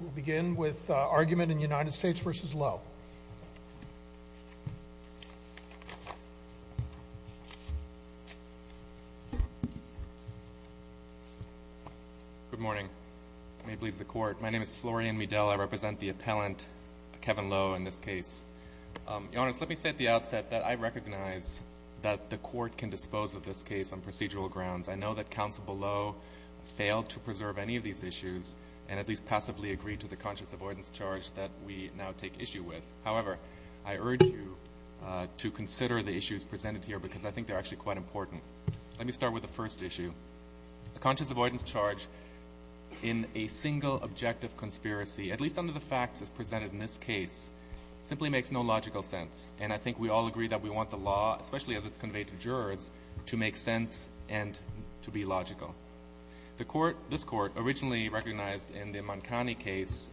We'll begin with argument in United States v. Lowe. Good morning. May it please the Court. My name is Florian Midell. I represent the appellant, Kevin Lowe, in this case. Your Honors, let me say at the outset that I recognize that the Court can dispose of this case on procedural grounds. I know that Counsel below failed to preserve any of these issues and at least passively agreed to the conscious avoidance charge that we now take issue with. However, I urge you to consider the issues presented here because I think they're actually quite important. Let me start with the first issue. The conscious avoidance charge in a single objective conspiracy, at least under the facts as presented in this case, simply makes no logical sense. And I think we all agree that we want the law, especially as it's conveyed to jurors, to make sense and to be logical. This Court originally recognized in the Mancani case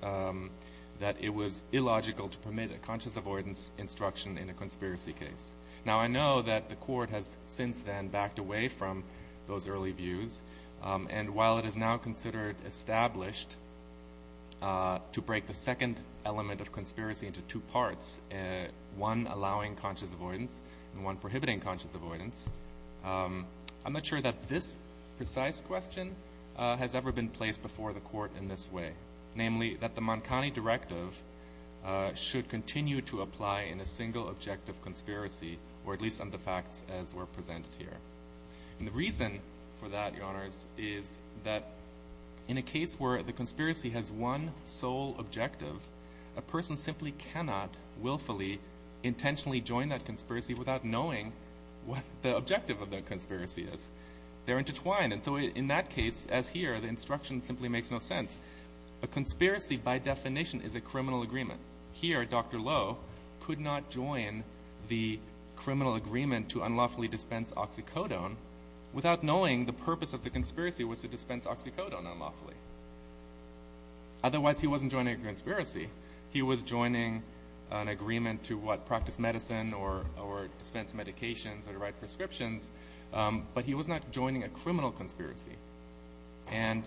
that it was illogical to permit a conscious avoidance instruction in a conspiracy case. Now, I know that the Court has since then backed away from those early views. And while it is now considered established to break the second element of conspiracy into two parts, one allowing conscious avoidance and one prohibiting conscious avoidance, I'm not sure that this precise question has ever been placed before the Court in this way, namely that the Mancani directive should continue to apply in a single objective conspiracy, or at least under the facts as were presented here. And the reason for that, Your Honors, is that in a case where the conspiracy has one sole objective, a person simply cannot willfully, intentionally join that conspiracy without knowing what the objective of that conspiracy is. They're intertwined. And so in that case, as here, the instruction simply makes no sense. A conspiracy, by definition, is a criminal agreement. Here, Dr. Lowe could not join the criminal agreement to unlawfully dispense oxycodone without knowing the purpose of the conspiracy was to dispense oxycodone unlawfully. Otherwise, he wasn't joining a conspiracy. He was joining an agreement to, what, practice medicine or dispense medications or write prescriptions, but he was not joining a criminal conspiracy. And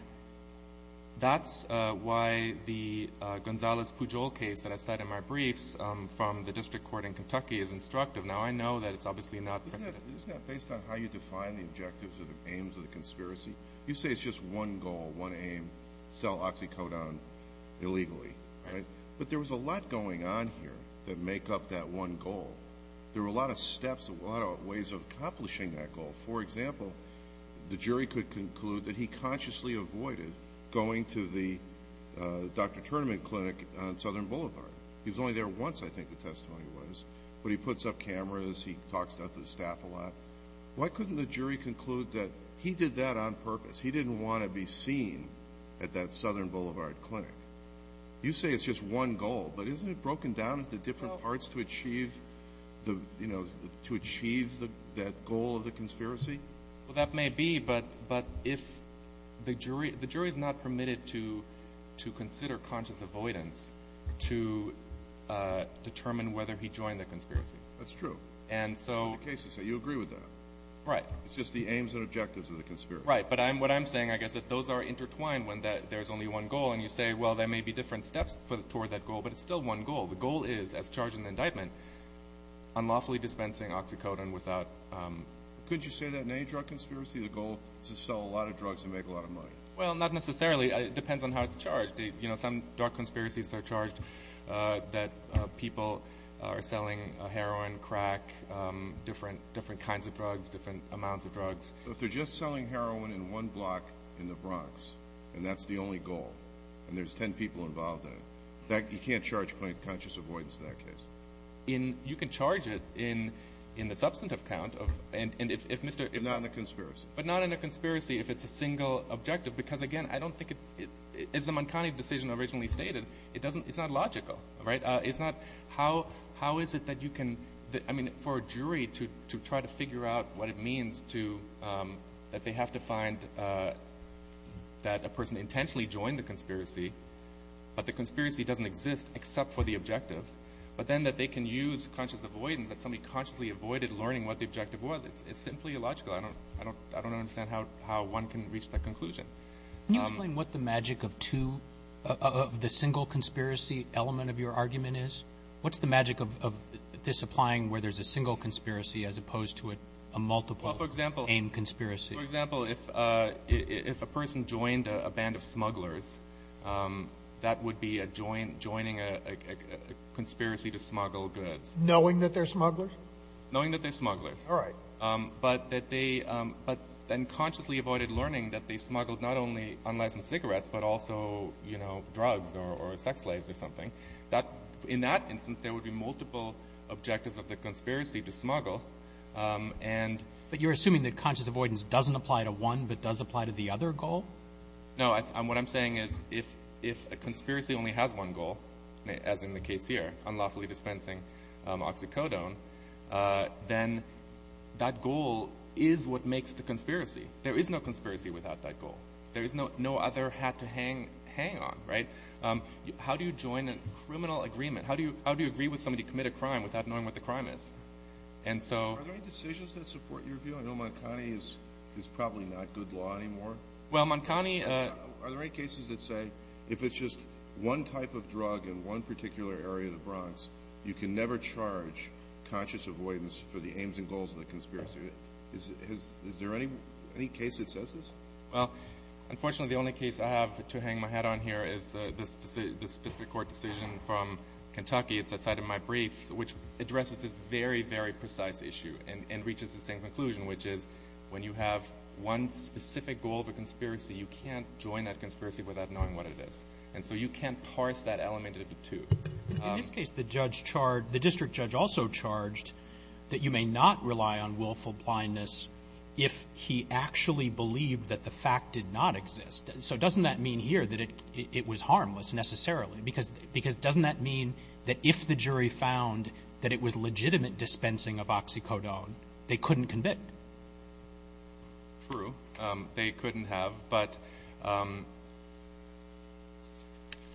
that's why the Gonzales-Pujol case that I said in my briefs from the District Court in Kentucky is instructive. Now, I know that it's obviously not precedent. Isn't that based on how you define the objectives or the aims of the conspiracy? You say it's just one goal, one aim, sell oxycodone illegally, right? But there was a lot going on here that make up that one goal. There were a lot of steps, a lot of ways of accomplishing that goal. For example, the jury could conclude that he consciously avoided going to the doctor tournament clinic on Southern Boulevard. He was only there once, I think the testimony was. But he puts up cameras. He talks to the staff a lot. Why couldn't the jury conclude that he did that on purpose? He didn't want to be seen at that Southern Boulevard clinic. You say it's just one goal, but isn't it broken down into different parts to achieve the, you know, to achieve that goal of the conspiracy? Well, that may be, but if the jury is not permitted to consider conscious avoidance to determine whether he joined the conspiracy. That's true. And so. You agree with that. Right. It's just the aims and objectives of the conspiracy. Right. But what I'm saying, I guess, is that those are intertwined when there's only one goal. And you say, well, there may be different steps toward that goal, but it's still one goal. The goal is, as charged in the indictment, unlawfully dispensing oxycodone without. Couldn't you say that in any drug conspiracy? The goal is to sell a lot of drugs and make a lot of money. Well, not necessarily. It depends on how it's charged. You know, some drug conspiracies are charged that people are selling heroin, crack, different kinds of drugs, different amounts of drugs. If they're just selling heroin in one block in the Bronx and that's the only goal and there's 10 people involved in it, you can't charge conscious avoidance in that case. You can charge it in the substantive count. But not in a conspiracy. But not in a conspiracy if it's a single objective. Because, again, I don't think it's a mankind decision originally stated. It's not logical, right? How is it that you can, I mean, for a jury to try to figure out what it means that they have to find that a person intentionally joined the conspiracy, but the conspiracy doesn't exist except for the objective, but then that they can use conscious avoidance, that somebody consciously avoided learning what the objective was. It's simply illogical. I don't understand how one can reach that conclusion. Can you explain what the magic of two of the single conspiracy element of your argument is? What's the magic of this applying where there's a single conspiracy as opposed to a multiple-aim conspiracy? For example, if a person joined a band of smugglers, that would be joining a conspiracy to smuggle goods. Knowing that they're smugglers? Knowing that they're smugglers. All right. But that they then consciously avoided learning that they smuggled not only unlicensed cigarettes but also drugs or sex slaves or something. In that instance, there would be multiple objectives of the conspiracy to smuggle. But you're assuming that conscious avoidance doesn't apply to one but does apply to the other goal? No. What I'm saying is if a conspiracy only has one goal, as in the case here, unlawfully dispensing oxycodone, then that goal is what makes the conspiracy. There is no conspiracy without that goal. There is no other hat to hang on. How do you join a criminal agreement? How do you agree with somebody to commit a crime without knowing what the crime is? Are there any decisions that support your view? I know Moncani is probably not good law anymore. Are there any cases that say if it's just one type of drug in one particular area of the Bronx, you can never charge conscious avoidance for the aims and goals of the conspiracy? Is there any case that says this? Unfortunately, the only case I have to hang my hat on here is this district court decision from Kentucky. It's outside of my briefs, which addresses this very, very precise issue and reaches the same conclusion, which is when you have one specific goal of a conspiracy, you can't join that conspiracy without knowing what it is. And so you can't parse that element into two. In this case, the district judge also charged that you may not rely on willful blindness if he actually believed that the fact did not exist. So doesn't that mean here that it was harmless necessarily? Because doesn't that mean that if the jury found that it was legitimate dispensing of oxycodone, they couldn't convict? True. They couldn't have. But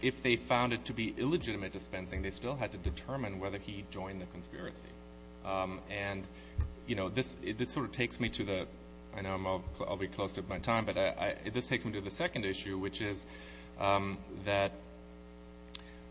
if they found it to be illegitimate dispensing, they still had to determine whether he joined the conspiracy. And, you know, this sort of takes me to the – I know I'll be close to my time, but this takes me to the second issue, which is that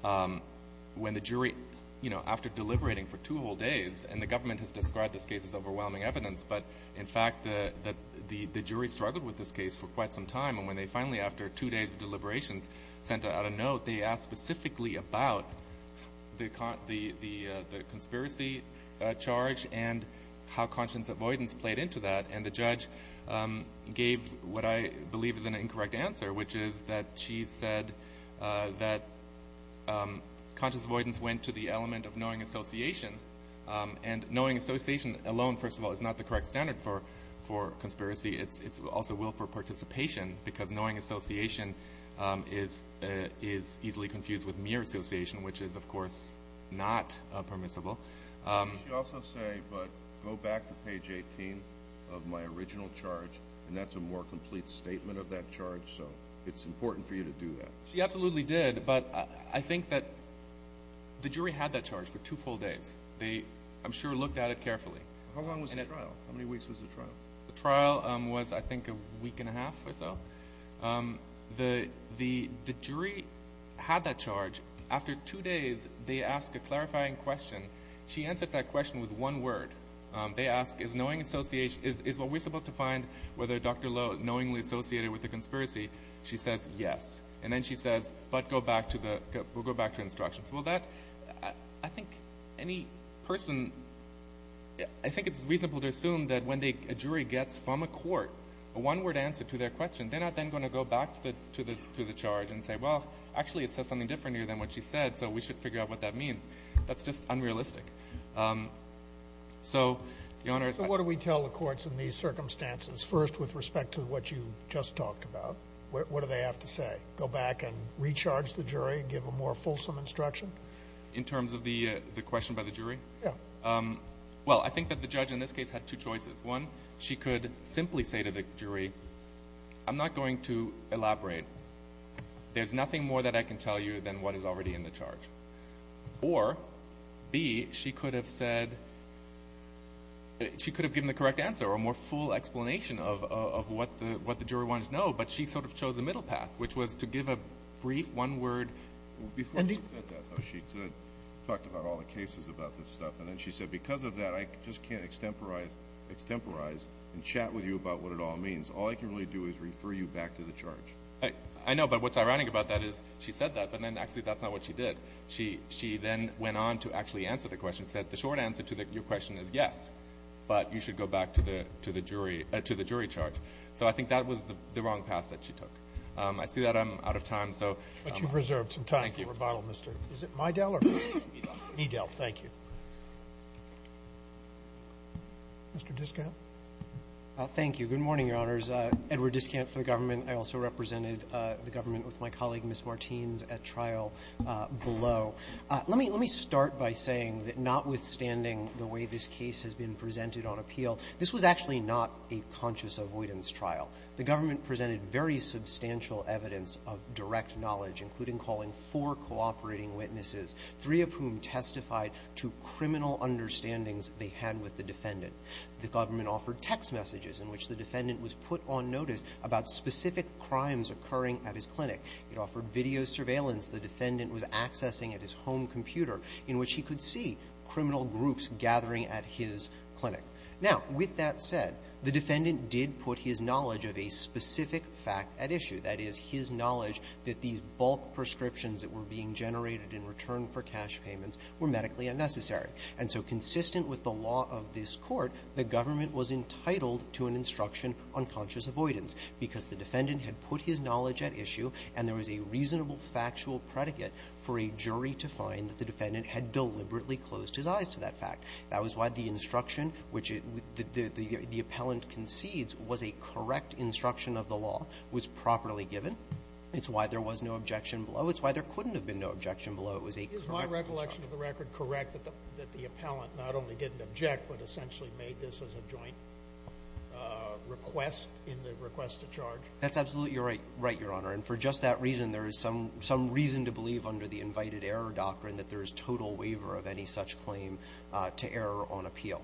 when the jury – you know, after deliberating for two whole days – and the government has described this case as overwhelming evidence, but in fact the jury struggled with this case for quite some time. And when they finally, after two days of deliberations, sent out a note, they asked specifically about the conspiracy charge and how conscience avoidance played into that. And the judge gave what I believe is an incorrect answer, which is that she said that conscience avoidance went to the element of knowing association. And knowing association alone, first of all, is not the correct standard for conspiracy. It's also willful participation because knowing association is easily confused with mere association, which is, of course, not permissible. Did she also say, but go back to page 18 of my original charge, and that's a more complete statement of that charge, so it's important for you to do that? She absolutely did, but I think that the jury had that charge for two full days. They, I'm sure, looked at it carefully. How long was the trial? How many weeks was the trial? The trial was, I think, a week and a half or so. The jury had that charge. After two days, they ask a clarifying question. She answers that question with one word. They ask, is knowing association, is what we're supposed to find, whether Dr. Lowe knowingly associated with the conspiracy? She says, yes. And then she says, but go back to the, we'll go back to instructions. Well, that, I think any person, I think it's reasonable to assume that when a jury gets from a court a one-word answer to their question, they're not then going to go back to the charge and say, well, actually it says something different here than what she said, so we should figure out what that means. That's just unrealistic. So, Your Honor. So what do we tell the courts in these circumstances? First, with respect to what you just talked about, what do they have to say? Go back and recharge the jury and give a more fulsome instruction? In terms of the question by the jury? Yeah. Well, I think that the judge in this case had two choices. One, she could simply say to the jury, I'm not going to elaborate. There's nothing more that I can tell you than what is already in the charge. Or, B, she could have said, she could have given the correct answer or a more full explanation of what the jury wanted to know, but she sort of chose a middle path, which was to give a brief one-word. Before she said that, though, she talked about all the cases about this stuff, and then she said, because of that, I just can't extemporize and chat with you about what it all means. All I can really do is refer you back to the charge. I know, but what's ironic about that is she said that, but then actually that's not what she did. She then went on to actually answer the question and said, the short answer to your question is yes, but you should go back to the jury charge. So I think that was the wrong path that she took. I see that I'm out of time, so thank you. But you've reserved some time for rebuttal, Mr. Is it Midell or? Midell. Midell, thank you. Mr. Diskant. Thank you. Good morning, Your Honors. Edward Diskant for the government. I also represented the government with my colleague, Ms. Martins, at trial below. Let me start by saying that notwithstanding the way this case has been presented on appeal, this was actually not a conscious avoidance trial. The government presented very substantial evidence of direct knowledge, including four cooperating witnesses, three of whom testified to criminal understandings they had with the defendant. The government offered text messages in which the defendant was put on notice about specific crimes occurring at his clinic. It offered video surveillance the defendant was accessing at his home computer in which he could see criminal groups gathering at his clinic. Now, with that said, the defendant did put his knowledge of a specific fact at issue, that is, his knowledge that these bulk prescriptions that were being generated in return for cash payments were medically unnecessary. And so consistent with the law of this Court, the government was entitled to an instruction on conscious avoidance because the defendant had put his knowledge at issue, and there was a reasonable factual predicate for a jury to find that the defendant had deliberately closed his eyes to that fact. That was why the instruction which the appellant concedes was a correct instruction of the law, was properly given. It's why there was no objection below. It's why there couldn't have been no objection below. It was a correct instruction. Sotomayor, is my recollection of the record correct that the appellant not only didn't object, but essentially made this as a joint request in the request to charge? That's absolutely right, Your Honor. And for just that reason, there is some reason to believe under the invited-error doctrine that there is total waiver of any such claim to error on appeal.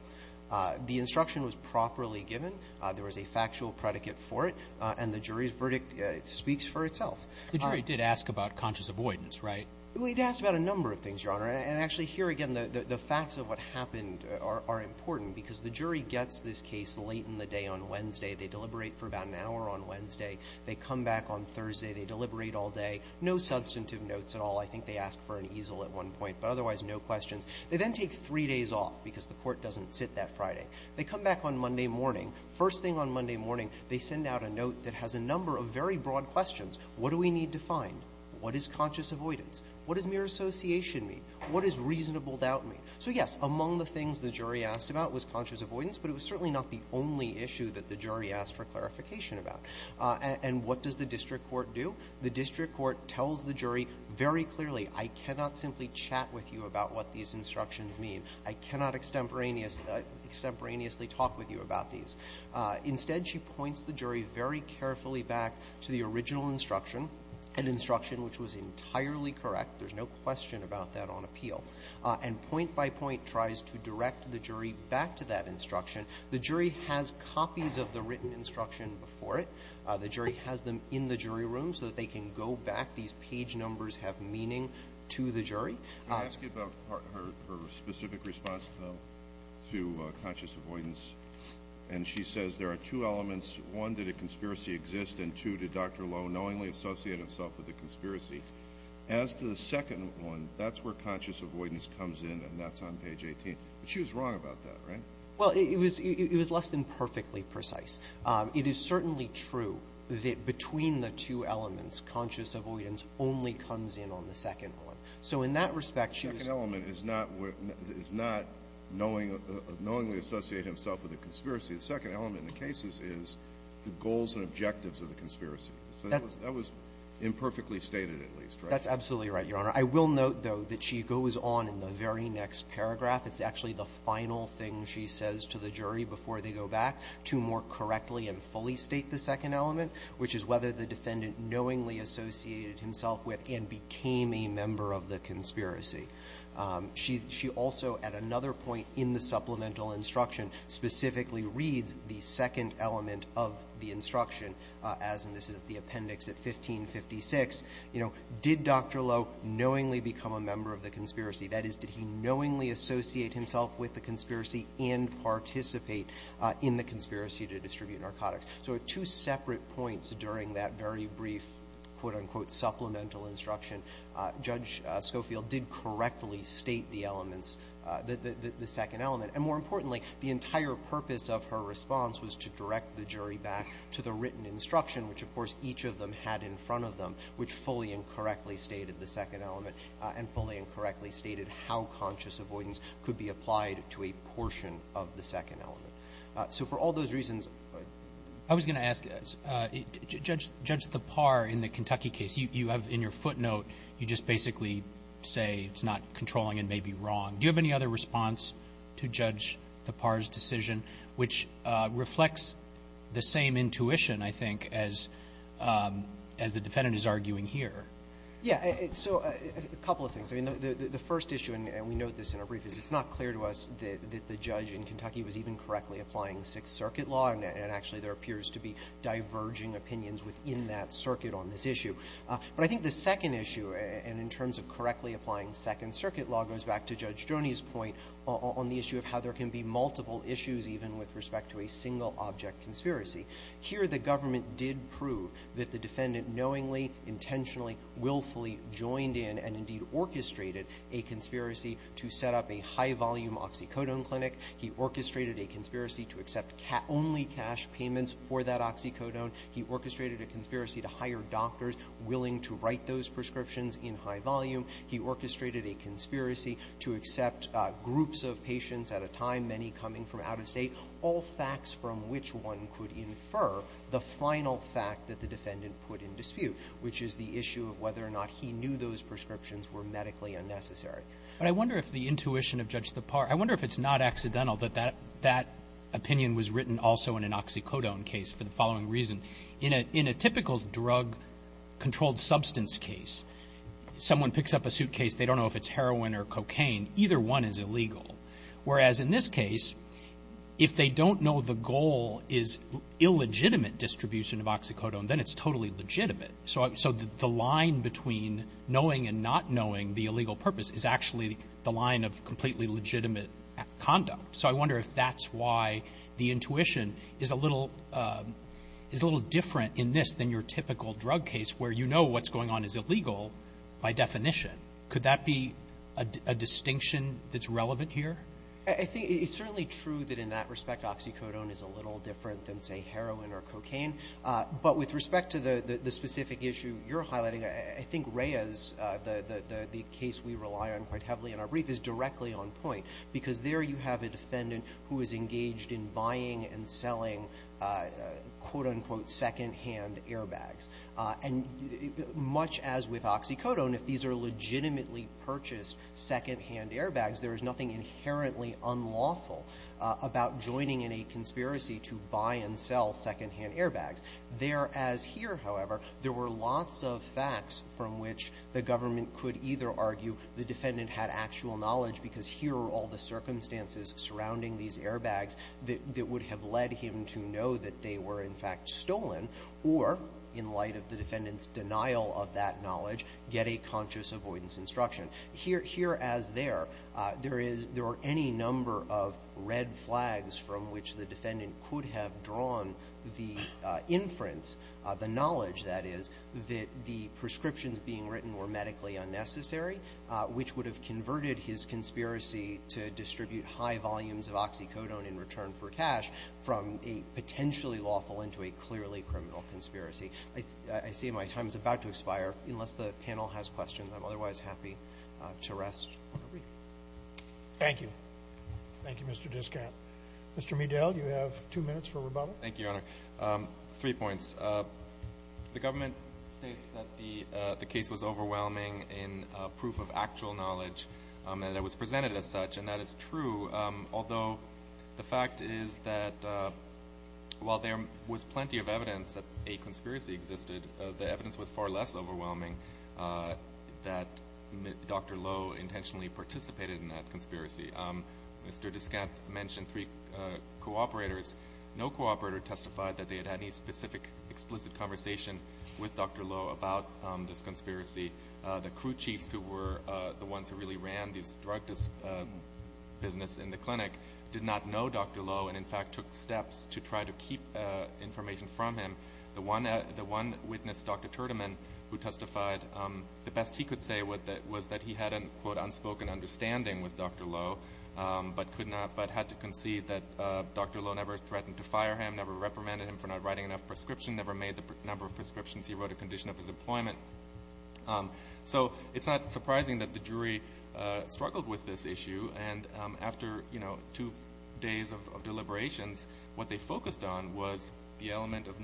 The instruction was properly given. There was a factual predicate for it. And the jury's verdict speaks for itself. The jury did ask about conscious avoidance, right? We'd asked about a number of things, Your Honor. And actually, here again, the facts of what happened are important because the jury gets this case late in the day on Wednesday. They deliberate for about an hour on Wednesday. They come back on Thursday. They deliberate all day. No substantive notes at all. I think they asked for an easel at one point, but otherwise no questions. They then take three days off because the court doesn't sit that Friday. They come back on Monday morning. First thing on Monday morning, they send out a note that has a number of very broad questions. What do we need to find? What is conscious avoidance? What does mere association mean? What does reasonable doubt mean? So, yes, among the things the jury asked about was conscious avoidance, but it was certainly not the only issue that the jury asked for clarification about. And what does the district court do? The district court tells the jury very clearly, I cannot simply chat with you about what these instructions mean. I cannot extemporaneously talk with you about these. Instead, she points the jury very carefully back to the original instruction, an instruction which was entirely correct. There's no question about that on appeal. And point by point tries to direct the jury back to that instruction. The jury has copies of the written instruction before it. The jury has them in the jury room so that they can go back. These page numbers have meaning to the jury. I ask you about her specific response to conscious avoidance. And she says there are two elements. One, did a conspiracy exist? And two, did Dr. Lowe knowingly associate himself with the conspiracy? As to the second one, that's where conscious avoidance comes in, and that's on page 18. But she was wrong about that, right? Well, it was less than perfectly precise. It is certainly true that between the two elements, conscious avoidance only comes in on the second one. So in that respect, she was --- The second element is not knowingly associate himself with the conspiracy. The second element in the cases is the goals and objectives of the conspiracy. So that was imperfectly stated, at least, right? That's absolutely right, Your Honor. I will note, though, that she goes on in the very next paragraph. It's actually the final thing she says to the jury before they go back to more correctly and fully state the second element, which is whether the defendant knowingly associated himself with and became a member of the conspiracy. She also, at another point in the supplemental instruction, specifically reads the second element of the instruction, as in this is the appendix at 1556. You know, did Dr. Lowe knowingly become a member of the conspiracy? That is, did he knowingly associate himself with the conspiracy and participate in the conspiracy to distribute narcotics? So at two separate points during that very brief, quote, unquote, supplemental instruction, Judge Schofield did correctly state the elements, the second element. And more importantly, the entire purpose of her response was to direct the jury back to the written instruction, which, of course, each of them had in front of them, which fully and correctly stated the second element and fully and correctly stated how conscious avoidance could be applied to a portion of the second element. So for all those reasons – I was going to ask, Judge Thapar, in the Kentucky case, you have in your footnote you just basically say it's not controlling and may be wrong. Do you have any other response to Judge Thapar's decision, which reflects the same intuition, I think, as the defendant is arguing here? Yeah. So a couple of things. I mean, the first issue, and we note this in our brief, is it's not clear to us that the judge in Kentucky was even correctly applying Sixth Circuit law, and actually there appears to be diverging opinions within that circuit on this issue. But I think the second issue, and in terms of correctly applying Second Circuit law, goes back to Judge Droney's point on the issue of how there can be multiple issues even with respect to a single-object conspiracy. Here the government did prove that the defendant knowingly, intentionally, willfully joined in and indeed orchestrated a conspiracy to set up a high-volume oxycodone clinic. He orchestrated a conspiracy to accept only cash payments for that oxycodone. He orchestrated a conspiracy to hire doctors willing to write those prescriptions in high volume. He orchestrated a conspiracy to accept groups of patients at a time, many coming from out of State, all facts from which one could infer the final fact that the defendant put in dispute, which is the issue of whether or not he knew those prescriptions were medically unnecessary. But I wonder if the intuition of Judge Tappar, I wonder if it's not accidental that that opinion was written also in an oxycodone case for the following reason. In a typical drug-controlled substance case, someone picks up a suitcase. They don't know if it's heroin or cocaine. Either one is illegal. Whereas in this case, if they don't know the goal is illegitimate distribution of oxycodone, then it's totally legitimate. So the line between knowing and not knowing the illegal purpose is actually the line of completely legitimate conduct. So I wonder if that's why the intuition is a little different in this than your typical drug case where you know what's going on is illegal by definition. Could that be a distinction that's relevant here? I think it's certainly true that in that respect oxycodone is a little different than, say, heroin or cocaine. But with respect to the specific issue you're highlighting, I think Reyes, the case we rely on quite heavily in our brief, is directly on point. Because there you have a defendant who is engaged in buying and selling, quote, unquote, secondhand airbags. And much as with oxycodone, if these are legitimately purchased secondhand airbags, there is nothing inherently unlawful about joining in a conspiracy to buy and sell secondhand airbags. There as here, however, there were lots of facts from which the government could either argue the defendant had actual knowledge because here are all the circumstances surrounding these airbags that would have led him to know that they were, in fact, stolen, or in light of the defendant's denial of that knowledge, get a conscious avoidance instruction. Here as there, there are any number of red flags from which the defendant could have drawn the inference, the knowledge, that is, that the prescriptions being written were medically unnecessary, which would have converted his conspiracy to distribute high volumes of oxycodone in return for cash from a potentially lawful into a clearly criminal conspiracy. I see my time is about to expire. Unless the panel has questions, I'm otherwise happy to rest for the week. Thank you. Thank you, Mr. Discat. Mr. Medell, you have two minutes for rebuttal. Thank you, Your Honor. Three points. The government states that the case was overwhelming in proof of actual knowledge that was presented as such, and that is true, although the fact is that while there was plenty of evidence that a conspiracy existed, the evidence was far less overwhelming that Dr. Lowe intentionally participated in that conspiracy. Mr. Discat mentioned three cooperators. No cooperator testified that they had had any specific explicit conversation with Dr. Lowe about this conspiracy. The crew chiefs who were the ones who really ran this drug business in the clinic did not know Dr. Lowe and, in fact, took steps to try to keep information from him. The one witness, Dr. Tertiman, who testified the best he could say was that he had an unspoken understanding with Dr. Lowe but had to concede that Dr. Lowe never threatened to fire him, never reprimanded him for not writing enough prescriptions, never made the number of prescriptions he wrote a condition of his employment. So it's not surprising that the jury struggled with this issue, and after two days of deliberations, what they focused on was the element of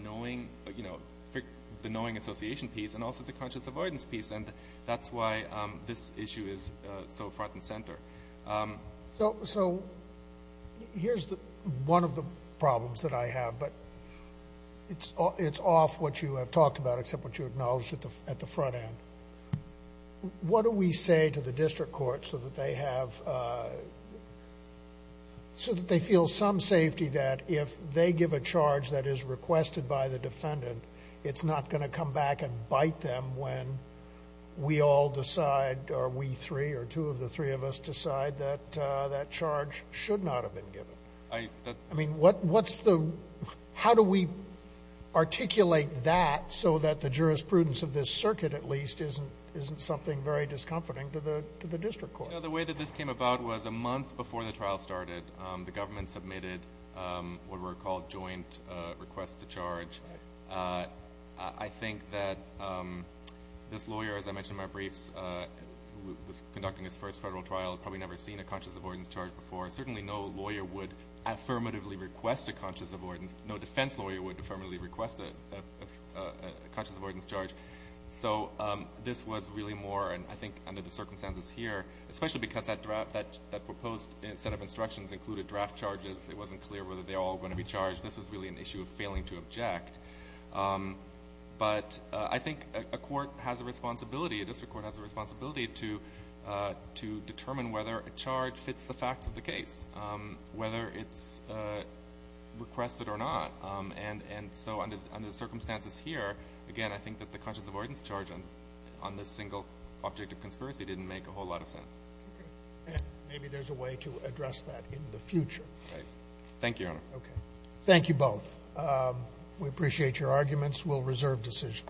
the knowing association piece and also the conscious avoidance piece, and that's why this issue is so front and center. So here's one of the problems that I have, but it's off what you have talked about except what you acknowledged at the front end. What do we say to the district court so that they feel some safety that if they give a charge that is requested by the defendant, it's not going to come back and bite them when we all decide or we three or two of the three of us decide that that charge should not have been given? I mean, how do we articulate that so that the jurisprudence of this circuit, at least, isn't something very discomforting to the district court? The way that this came about was a month before the trial started, the government submitted what were called joint requests to charge. I think that this lawyer, as I mentioned in my briefs, who was conducting his first federal trial, had probably never seen a conscious avoidance charge before. Certainly no lawyer would affirmatively request a conscious avoidance. No defense lawyer would affirmatively request a conscious avoidance charge. So this was really more, and I think under the circumstances here, especially because that proposed set of instructions included draft charges. It wasn't clear whether they were all going to be charged. This was really an issue of failing to object. But I think a court has a responsibility, a district court has a responsibility, to determine whether a charge fits the facts of the case, whether it's requested or not. And so under the circumstances here, again, I think that the conscious avoidance charge on this single object of conspiracy didn't make a whole lot of sense. Okay. And maybe there's a way to address that in the future. Right. Thank you, Your Honor. Okay. Thank you both. We appreciate your arguments. We'll reserve decision.